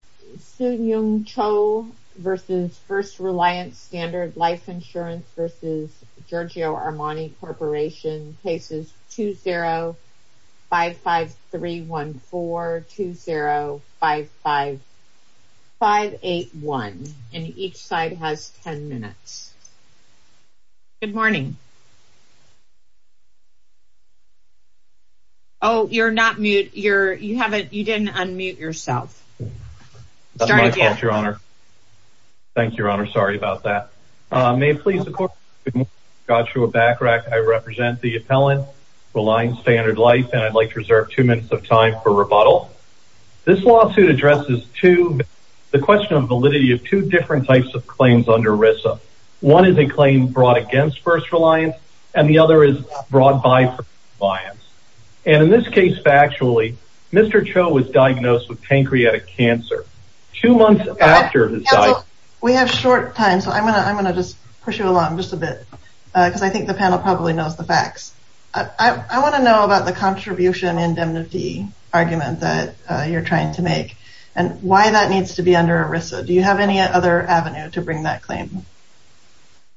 v. Giorgio Armani C. Cases 20-55314-20-58581 and each side has 10 minutes. This lawsuit addresses the question of the validity of two different types of claims under ERISA. One is a claim brought against First Reliance and the other is brought by First Reliance. And in this case factually, Mr. Cho was diagnosed with pancreatic cancer two months after his death. We have short time so I'm going to just push you along just a bit because I think the panel probably knows the facts. I want to know about the contribution indemnity argument that you're trying to make and why that needs to be under ERISA. Do you have any other avenue to bring that claim?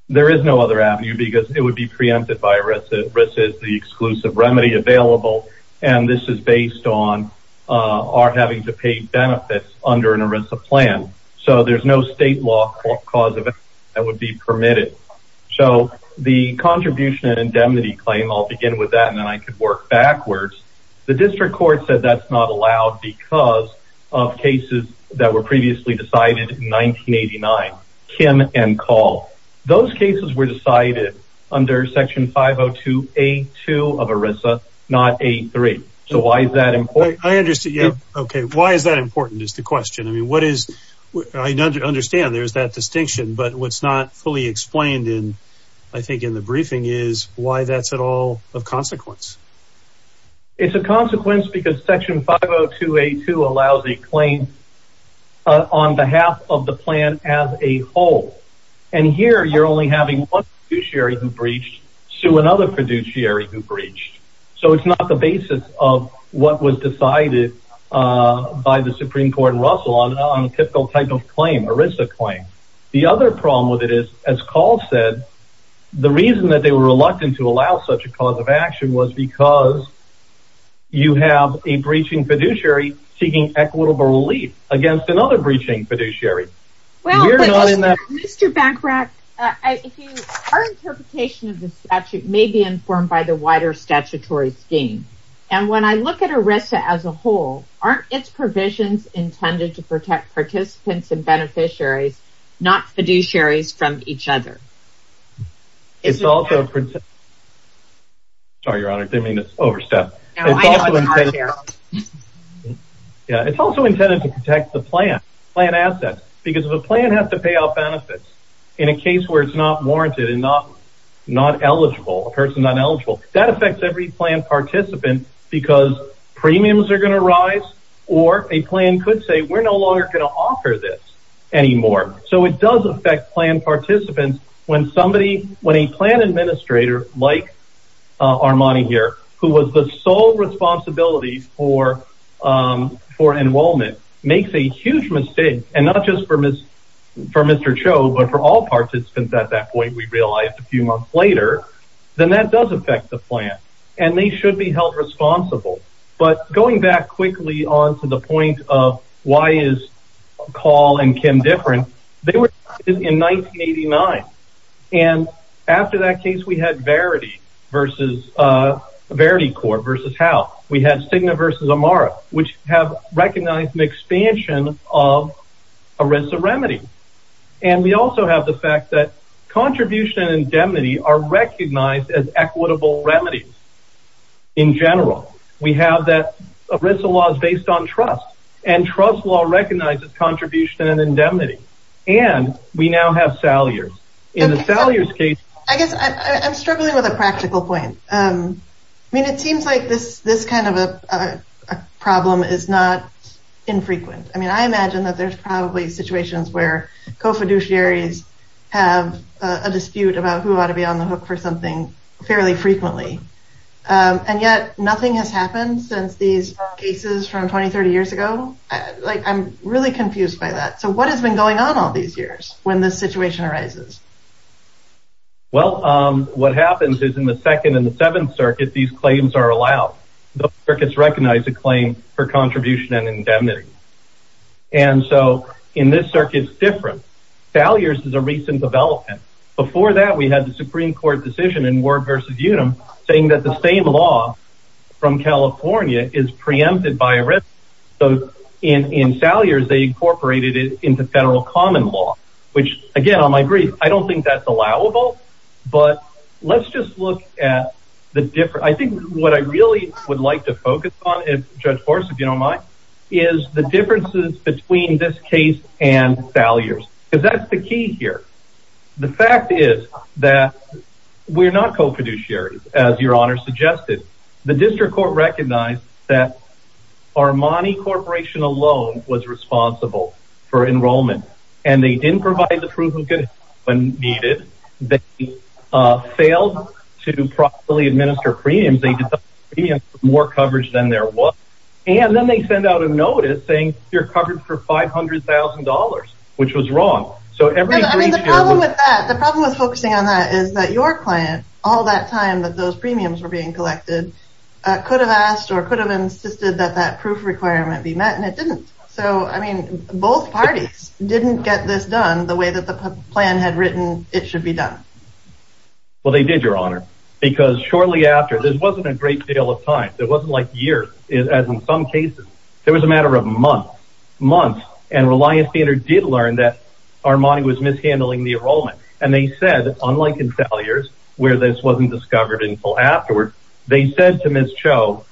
There is no other avenue because it would be preempted by ERISA. ERISA is the exclusive remedy available and this is based on our having to pay benefits under an ERISA plan. So there's no state law clause that would be permitted. So the contribution and indemnity claim, I'll begin with that and then I can work backwards. The district court said that's not allowed because of cases that were previously decided in 1989, Kim and Call. Those cases were decided under Section 502A2 of ERISA, not A3. So why is that important? I understand. Why is that important is the question. I understand there's that distinction but what's not fully explained in the briefing is why that's at all of consequence. It's a consequence because Section 502A2 allows a claim on behalf of the plan as a whole. And here you're only having one fiduciary who breached to another fiduciary who breached. So it's not the basis of what was decided by the Supreme Court and Russell on a typical type of claim, ERISA claim. The other problem with it is, as Call said, the reason that they were reluctant to allow such a cause of action was because you have a breaching fiduciary seeking equitable relief against another breaching fiduciary. Well, Mr. Bachrach, our interpretation of the statute may be informed by the wider statutory scheme. And when I look at ERISA as a whole, aren't its provisions intended to protect participants and beneficiaries, not fiduciaries from each other? It's also intended to protect the plan, plan assets. Because if a plan has to pay off benefits in a case where it's not warranted and not eligible, a person not eligible, that affects every plan participant because premiums are going to rise or a plan could say, we're no longer going to offer this anymore. So it does affect plan participants when somebody, when a plan administrator like Armani here, who was the sole responsibility for enrollment, makes a huge mistake, and not just for Mr. Cho, but for all participants at that point, we realized a few months later, then that does affect the plan and they should be held responsible. But going back quickly on to the point of why is Call and Kim different, they were in 1989. And after that case, we had Verity versus, Verity Corp versus Howe. We had Cigna versus Amara, which have recognized an expansion of ERISA remedy. And we also have the fact that contribution and indemnity are recognized as equitable remedies. In general, we have that ERISA law is based on trust, and trust law recognizes contribution and indemnity. And we now have Salyers. In the Salyers case, I guess I'm struggling with a practical point. I mean, it seems like this, this kind of a problem is not infrequent. I mean, I imagine that there's probably situations where co-fiduciaries have a dispute about who ought to be on the hook for something fairly frequently. And yet nothing has happened since these cases from 20, 30 years ago. Like, I'm really confused by that. So what has been going on all these years when this situation arises? Well, what happens is in the second and the seventh circuit, these claims are allowed. The circuits recognize a claim for contribution and indemnity. And so in this circuit, it's different. Salyers is a recent development. Before that, we had the Supreme Court decision in Ward versus Unum, saying that the same law from California is preempted by ERISA. So in Salyers, they incorporated it into federal common law, which, again, on my brief, I don't think that's allowable. But let's just look at the difference. I think what I really would like to focus on, if Judge Horst, if you don't mind, is the differences between this case and Salyers, because that's the key here. The fact is that we're not co-fiduciaries, as your Honor suggested. The district court recognized that Armani Corporation alone was responsible for enrollment, and they didn't provide the proof when needed. They failed to properly administer premiums. They did more coverage than there was. And then they send out a notice saying you're covered for $500,000, which was wrong. So the problem with focusing on that is that your client, all that time that those premiums were being collected, could have asked or could have insisted that that proof requirement be met, and it didn't. So, I mean, both parties didn't get this done the way that the plan had written it should be done. Well, they did, your Honor, because shortly after, this wasn't a great deal of time. It wasn't like years, as in some cases. It was a matter of months, months. And Reliance Vayner did learn that Armani was mishandling the enrollment. And they said, unlike in Salyers, where this wasn't discovered until afterwards, they said to Ms. Cho,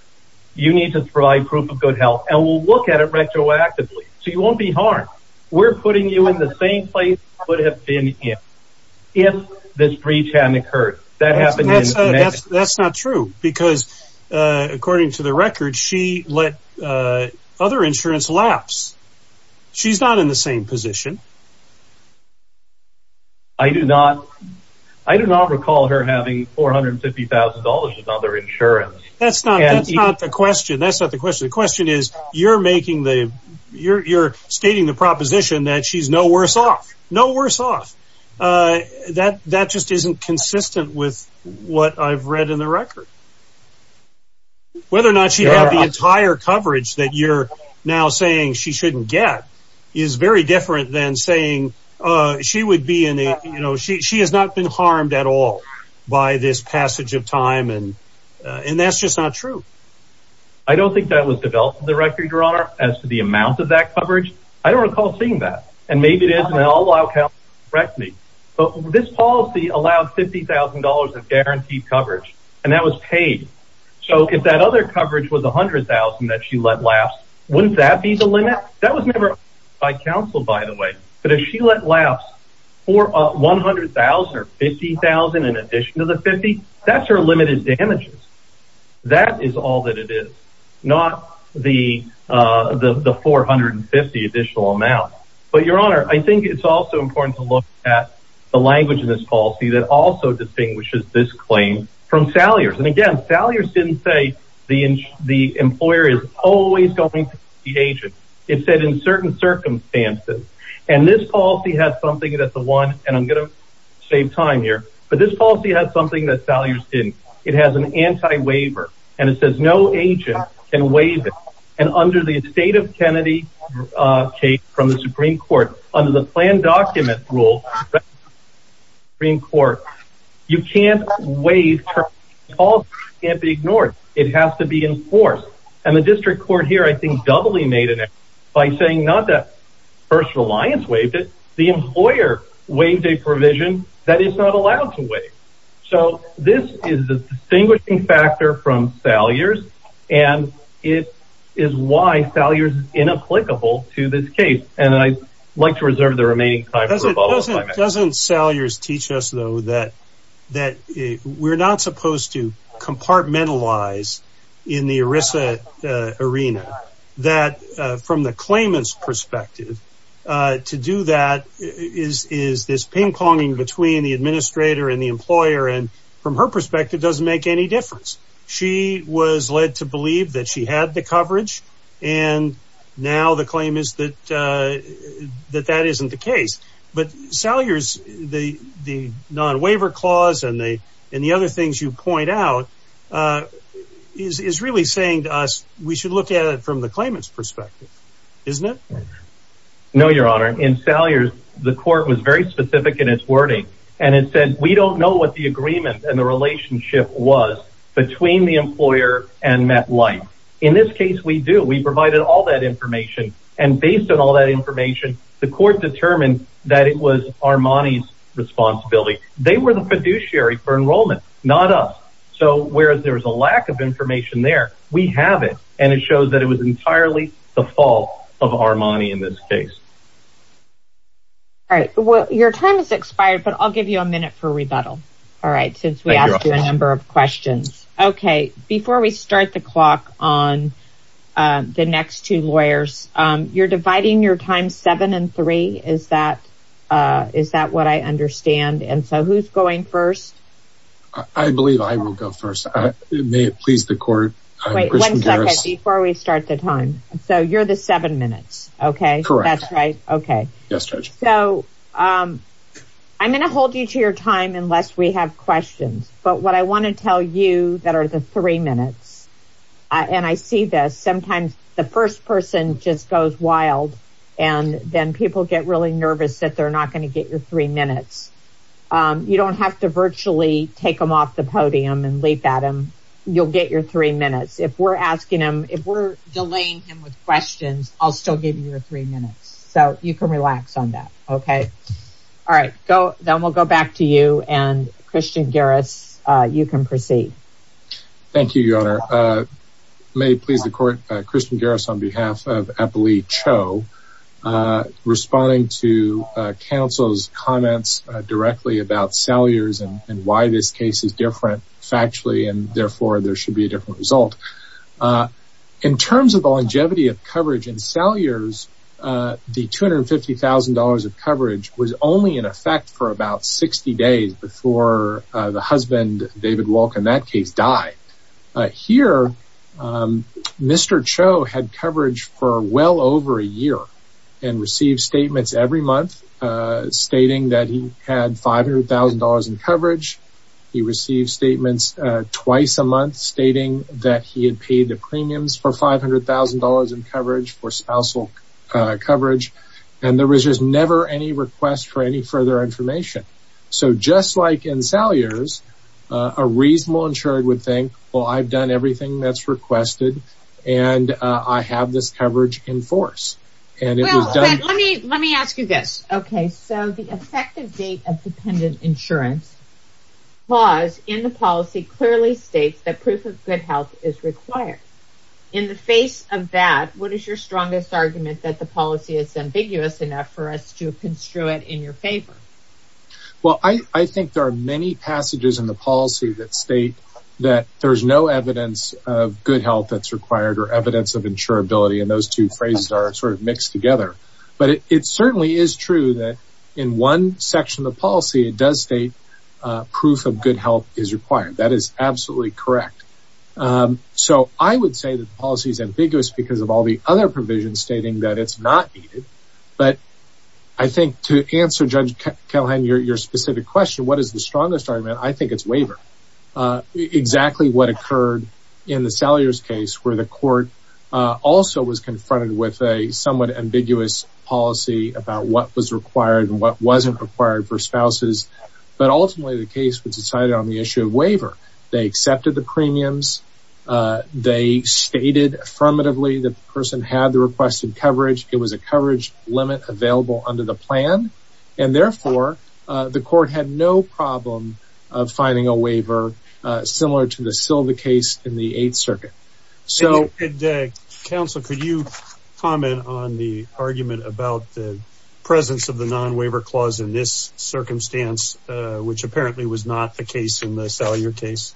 you need to provide proof of good health, and we'll look at it retroactively, so you won't be harmed. We're putting you in the same place you would have been in if this breach hadn't occurred. That happened in Connecticut. That's not true, because according to the record, she let other insurance lapse. She's not in the same position. I do not recall her having $450,000 in other insurance. That's not the question. That's not the question. The question is, you're stating the proposition that she's no worse off. No worse off. That just isn't consistent with what I've read in the record. Whether or not she had the entire coverage that you're now saying she shouldn't get is very different than saying she has not been harmed at all by this passage of time. And that's just not true. I don't think that was developed in the record, Your Honor, as to the amount of that coverage. I don't recall seeing that. And maybe it is, and I'll allow counsel to correct me. But this policy allowed $50,000 of guaranteed coverage, and that was paid. So if that other coverage was $100,000 that she let lapse, wouldn't that be the limit? That was never by counsel, by the way. But if she let lapse $100,000 or $50,000 in addition to the 50, that's her limited damages. That is all that it is, not the $450,000 additional amount. But, Your Honor, I think it's also important to look at the language in this policy that also distinguishes this claim from Salyer's. And again, Salyer's didn't say the employer is always going to be the agent. It said in certain circumstances. And this policy had something that the one, and I'm going to save time here, but this policy has something that Salyer's didn't. It has an anti-waiver. And it says no agent can waive it. And under the estate of Kennedy case from the Supreme Court, under the planned document rule, Supreme Court, you can't waive, the policy can't be ignored. It has to be enforced. And the district court here, I think, doubly made an error by saying not that First Reliance waived it, the employer waived a provision that is not allowed to waive. So this is the distinguishing factor from Salyer's. And it is why Salyer's is inapplicable to this case. And I'd like to reserve the remaining time for the follow-up. Doesn't Salyer's teach us, though, that we're not supposed to compartmentalize in the ERISA arena, that from the claimant's perspective, to do that is this ping-ponging between the administrator and the employer. And from her perspective, it doesn't make any difference. She was led to believe that she had the coverage. And now the claim is that that isn't the case. But Salyer's, the non-waiver clause and the other things you point out, is really saying to us, we should look at it from the claimant's perspective. Isn't it? No, Your Honor. In Salyer's, the court was very specific in its wording. And it said, we don't know what the agreement and the relationship was between the employer and MetLife. In this case, we do. We provided all that information. And based on all that information, the court determined that it was Armani's responsibility. They were the fiduciary for enrollment, not us. So whereas there was a lack of information there, we have it. And it shows that it was entirely the fault of Armani in this case. All right. Your time has expired, but I'll give you a minute for rebuttal. All right, since we asked you a number of questions. OK. Before we start the clock on the next two lawyers, you're dividing your time seven and three. Is that what I understand? And so who's going first? I believe I will go first. May it please the court. Wait, one second, before we start the time. So you're the seven minutes, OK? Correct. That's right, OK. Yes, Judge. So I'm going to hold you to your time unless we have questions. But what I want to tell you that are the three minutes, and I see this, sometimes the first person just goes wild. And then people get really nervous that they're not going to get your three minutes. You don't have to virtually take them off the podium and leap at them. You'll get your three minutes. If we're asking him, if we're delaying him with questions, I'll still give you your three minutes. So you can relax on that, OK? All right, then we'll go back to you. And Christian Garris, you can proceed. Thank you, Your Honor. May it please the court. Christian Garris on behalf of Eppley Cho. Responding to counsel's comments directly about Salyers and why this case is different factually, and therefore, there should be a different result. In terms of the longevity of coverage in Salyers, the $250,000 of coverage was only in effect for about 60 days before the husband, David Wolk, in that case died. Here, Mr. Cho had coverage for well over a year and received statements every month stating that he had $500,000 in coverage. He received statements twice a month stating that he had paid the premiums for $500,000 in coverage for spousal coverage. And there was just never any request for any further information. So just like in Salyers, a reasonable insured would think, well, I've done everything that's requested, and I have this coverage in force. And it was done. Let me ask you this. OK, so the effective date of dependent insurance clause in the policy clearly states that proof of good health is required. In the face of that, what is your strongest argument that the policy is ambiguous enough for us to construe it in your favor? Well, I think there are many passages in the policy that state that there is no evidence of good health that's required or evidence of insurability. And those two phrases are sort of mixed together. But it certainly is true that in one section of the policy, it does state proof of good health is required. That is absolutely correct. So I would say that the policy is ambiguous because of all the other provisions stating that it's not needed. But I think to answer, Judge Callahan, your specific question, what is the strongest argument, I think it's waiver. Exactly what occurred in the Salyers case, where the court also was confronted with a somewhat ambiguous policy about what was required and what wasn't required for spouses. But ultimately, the case was decided on the issue of waiver. They accepted the premiums. They stated affirmatively that the person had the requested coverage. It was a coverage limit available under the plan. And therefore, the court had no problem of finding a waiver similar to the Silva case in the Eighth Circuit. And Counsel, could you comment on the argument about the presence of the non-waiver clause in this circumstance, which apparently was not the case in the Salyer case?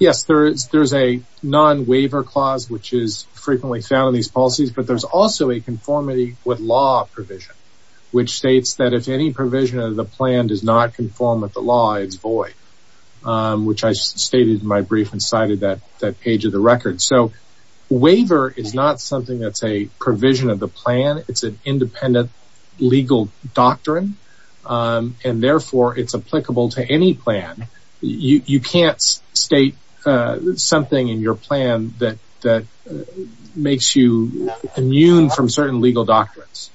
Yes, there is a non-waiver clause, which is frequently found in these policies. But there's also a conformity with law provision, which states that if any provision of the plan does not conform with the law, it's void, which I stated in my brief and cited that page of the record. So, waiver is not something that's a provision of the plan. It's an independent legal doctrine. And therefore, it's applicable to any plan. You can't state something in your plan that makes you immune from certain legal doctrines.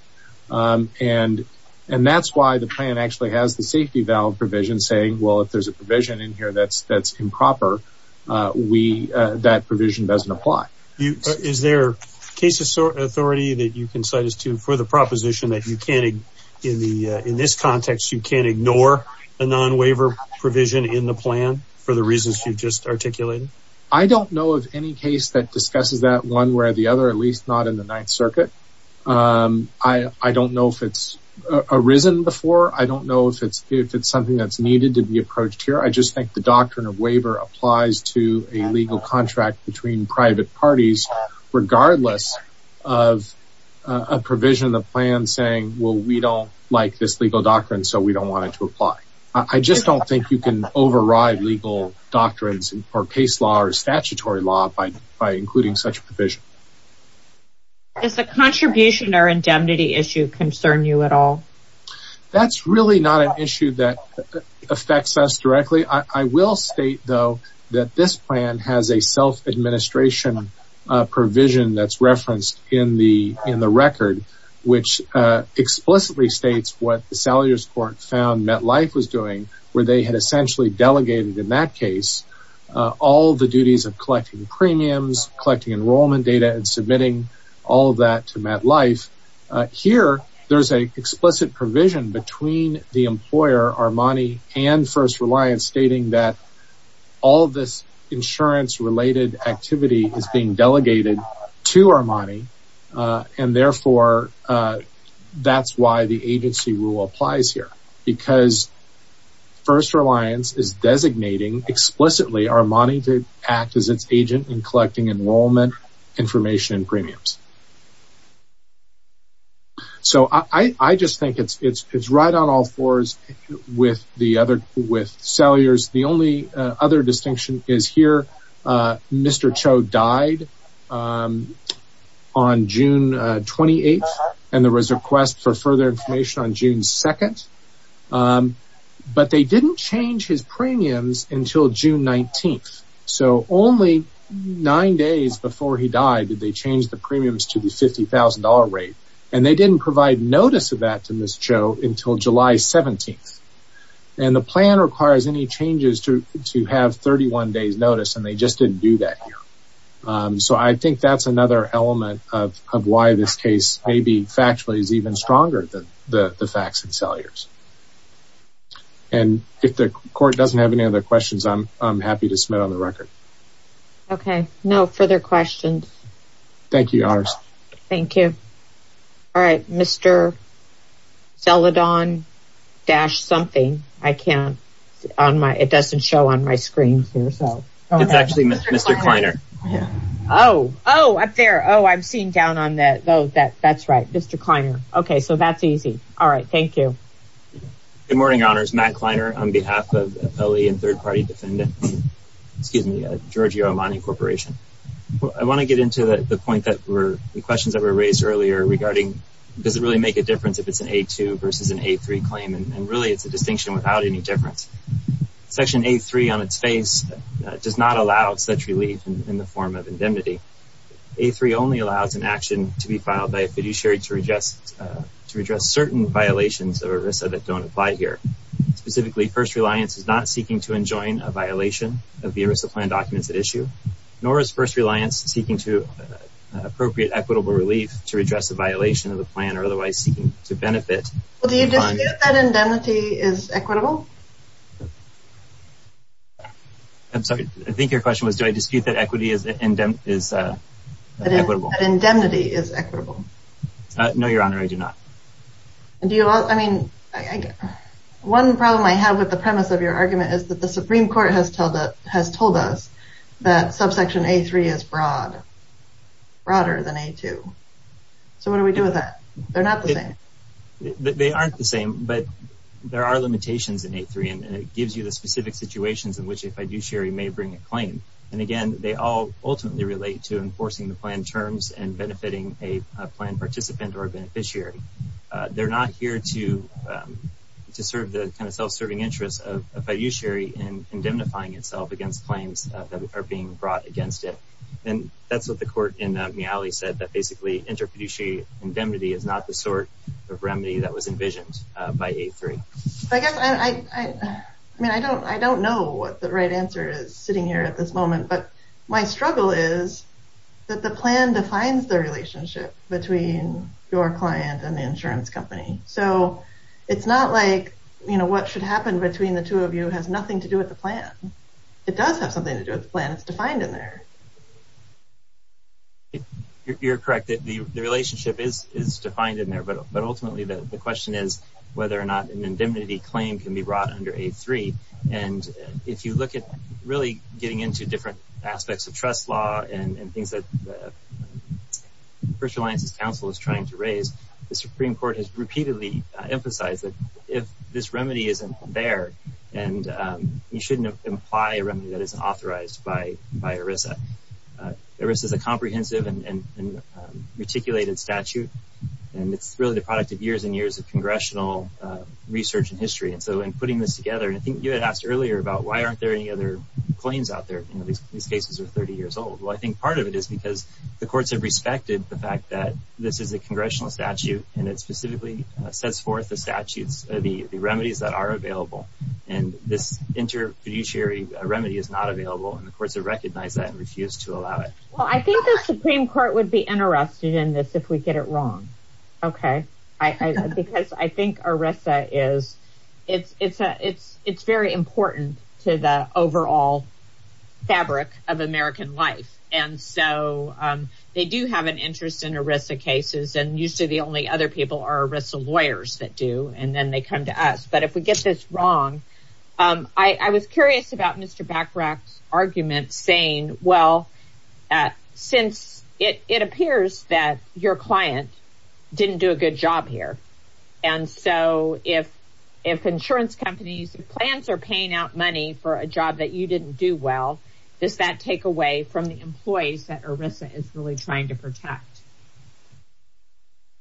And that's why the plan actually has the safety valve provision saying, well, if there's a provision in here that's improper, that provision doesn't apply. Is there case authority that you can cite us to for the proposition that you can't, in this context, you can't ignore a non-waiver provision in the plan for the reasons you've just articulated? I don't know of any case that discusses that one where the other, at least not in the Ninth Circuit. I don't know if it's arisen before. I don't know if it's something that's needed to be approached here. I just think the doctrine of waiver applies to a legal contract between private parties, regardless of a provision of the plan saying, well, we don't like this legal doctrine, so we don't want it to apply. I just don't think you can override legal doctrines or case law or statutory law by including such provision. Does the contribution or indemnity issue concern you at all? That's really not an issue that affects us directly. I will state, though, that this plan has a self-administration provision that's referenced in the record, which explicitly states what the Salaries Court found MetLife was doing, where they had essentially delegated, in that case, all the duties of collecting premiums, collecting enrollment data, and submitting all of that to MetLife. Here, there's an explicit provision between the employer, Armani, and First Reliance, stating that all of this insurance-related activity is being delegated to Armani, and therefore, that's why the agency rule applies here, because First Reliance is designating, explicitly, Armani to act as its agent in collecting enrollment information and premiums. So I just think it's right on all fours with Salyers. The only other distinction is here, Mr. Cho died on June 28th, and there was a request for further information on June 2nd, but they didn't change his premiums until June 19th. So only nine days before he died did they change the premiums to the $50,000 rate, and they didn't provide notice of that to Mr. Cho until July 17th, and the plan requires any changes to have 31 days notice, and they just didn't do that here. So I think that's another element of why this case, maybe factually, is even stronger than the facts in Salyers. And if the court doesn't have any other questions, I'm happy to submit on the record. Okay, no further questions. Thank you, Your Honors. Thank you. All right, Mr. Celadon dash something. I can't, it doesn't show on my screen here, so. It's actually Mr. Kleiner. Oh, oh, up there. Oh, I'm seeing down on that. Oh, that's right, Mr. Kleiner. Okay, so that's easy. All right, thank you. Good morning, Your Honors. Matt Kleiner on behalf of an LE and third-party defendant. Excuse me, Giorgio Armani Corporation. I wanna get into the point that were, the questions that were raised earlier regarding, does it really make a difference if it's an A2 versus an A3 claim? And really, it's a distinction without any difference. Section A3 on its face does not allow such relief in the form of indemnity. A3 only allows an action to be filed by a fiduciary to redress certain violations of ERISA that don't apply here. Specifically, first reliance is not seeking to enjoin a violation of the ERISA plan documents at issue, nor is first reliance seeking to appropriate equitable relief to redress a violation of the plan or otherwise seeking to benefit. Well, do you dispute that indemnity is equitable? I'm sorry, I think your question was, do I dispute that equity is equitable? That indemnity is equitable. No, Your Honor, I do not. Do you, I mean, one problem I have with the premise of your argument is that the Supreme Court has told us that subsection A3 is broad, broader than A2. So what do we do with that? They're not the same. They aren't the same, but there are limitations in A3 and it gives you the specific situations in which a fiduciary may bring a claim. And again, they all ultimately relate to enforcing the plan terms and benefiting a plan participant or a beneficiary. They're not here to serve the kind of self-serving interests of a fiduciary in indemnifying itself against claims that are being brought against it. And that's what the court in Miali said that basically inter fiduciary indemnity is not the sort of remedy that was envisioned by A3. I guess, I mean, I don't know what the right answer is sitting here at this moment, but my struggle is that the plan defines the relationship between your client and the insurance company. So it's not like, you know, what should happen between the two of you has nothing to do with the plan. It does have something to do with the plan. It's defined in there. You're correct that the relationship is defined in there, but ultimately the question is whether or not an indemnity claim can be brought under A3. And if you look at really getting into different aspects of trust law and things that First Alliances Council is trying to raise, the Supreme Court has repeatedly emphasized that if this remedy isn't there and you shouldn't imply a remedy that isn't authorized by ERISA. ERISA is a comprehensive and reticulated statute. And it's really the product of years and years of congressional research and history. And so in putting this together, and I think you had asked earlier about why aren't there any other claims out there? You know, these cases are 30 years old. Well, I think part of it is because the courts have respected the fact that this is a congressional statute and it specifically sets forth the statutes, the remedies that are available. And this inter fiduciary remedy is not available. And the courts have recognized that and refused to allow it. Well, I think the Supreme Court would be interested in this if we get it wrong. Okay. Because I think ERISA is, it's very important to the overall fabric of American life. And so they do have an interest in ERISA cases and usually the only other people are ERISA lawyers that do and then they come to us. But if we get this wrong, I was curious about Mr. Bachrach's argument saying, well, since it appears that your client didn't do a good job here. And so if insurance companies, if plans are paying out money for a job that you didn't do well, does that take away from the employees that ERISA is really trying to protect?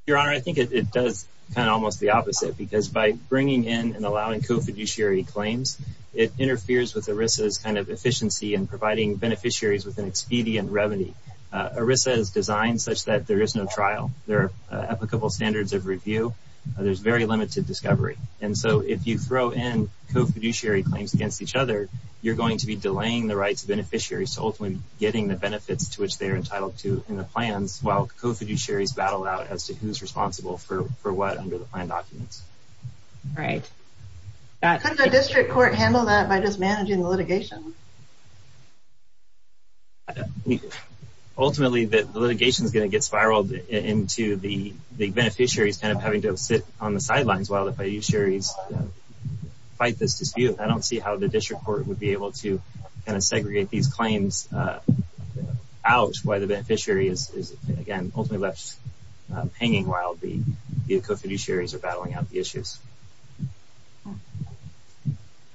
Your Honor, I think it does kind of almost the opposite because by bringing in and allowing co-fiduciary claims, it interferes with ERISA's kind of efficiency and providing beneficiaries with an expedient revenue. ERISA is designed such that there is no trial. There are applicable standards of review. There's very limited discovery. And so if you throw in co-fiduciary claims against each other, you're going to be delaying the rights of beneficiaries to ultimately getting the benefits to which they're entitled to in the plans while co-fiduciaries battle out as to who's responsible for what under the plan documents. Right. Couldn't a district court handle that by just managing the litigation? Ultimately the litigation is gonna get spiraled into the beneficiaries kind of having to sit on the sidelines while the fiduciaries fight this dispute. I don't see how the district court would be able to kind of segregate these claims out while the beneficiary is, again, ultimately left hanging while the co-fiduciaries are battling out the issues.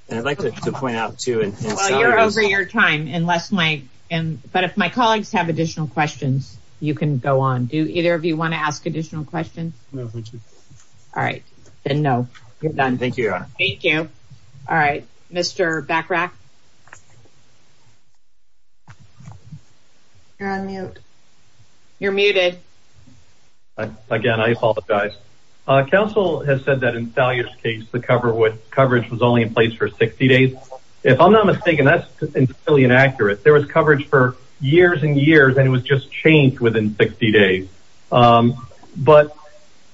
And I'd like to point out too- Well, you're over your time. But if my colleagues have additional questions, you can go on. Do either of you want to ask additional questions? No, thank you. All right, then no. You're done, thank you, Your Honor. Thank you. All right, Mr. Bachrach. You're on mute. You're muted. Again, I apologize. Council has said that in Thalia's case, the coverage was only in place for 60 days. If I'm not mistaken, that's entirely inaccurate. There was coverage for years and years and it was just changed within 60 days. But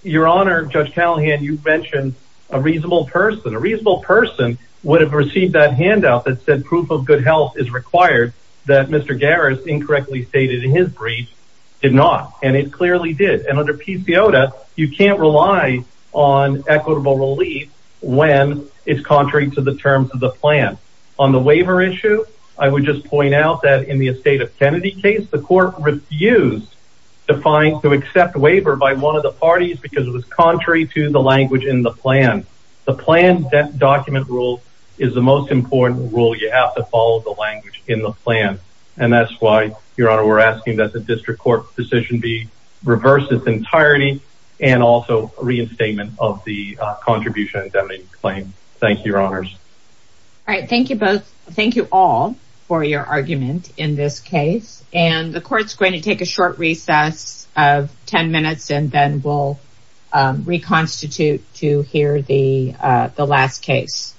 Your Honor, Judge Callahan, you've mentioned a reasonable person. A reasonable person would have received that handout that said proof of good health is required that Mr. Garris incorrectly stated in his brief did not. And it clearly did. And under PCOTA, you can't rely on equitable relief when it's contrary to the terms of the plan. On the waiver issue, I would just point out that in the estate of Kennedy case, the court refused to accept waiver by one of the parties because it was contrary to the language in the plan. The plan document rule is the most important rule. You have to follow the language in the plan. And that's why, Your Honor, we're asking that the district court decision be reversed its entirety and also reinstatement of the contribution indemnity claim. Thank you, Your Honors. All right, thank you both. Thank you all for your argument in this case. And the court's going to take a short recess of 10 minutes and then we'll reconstitute to hear the last case.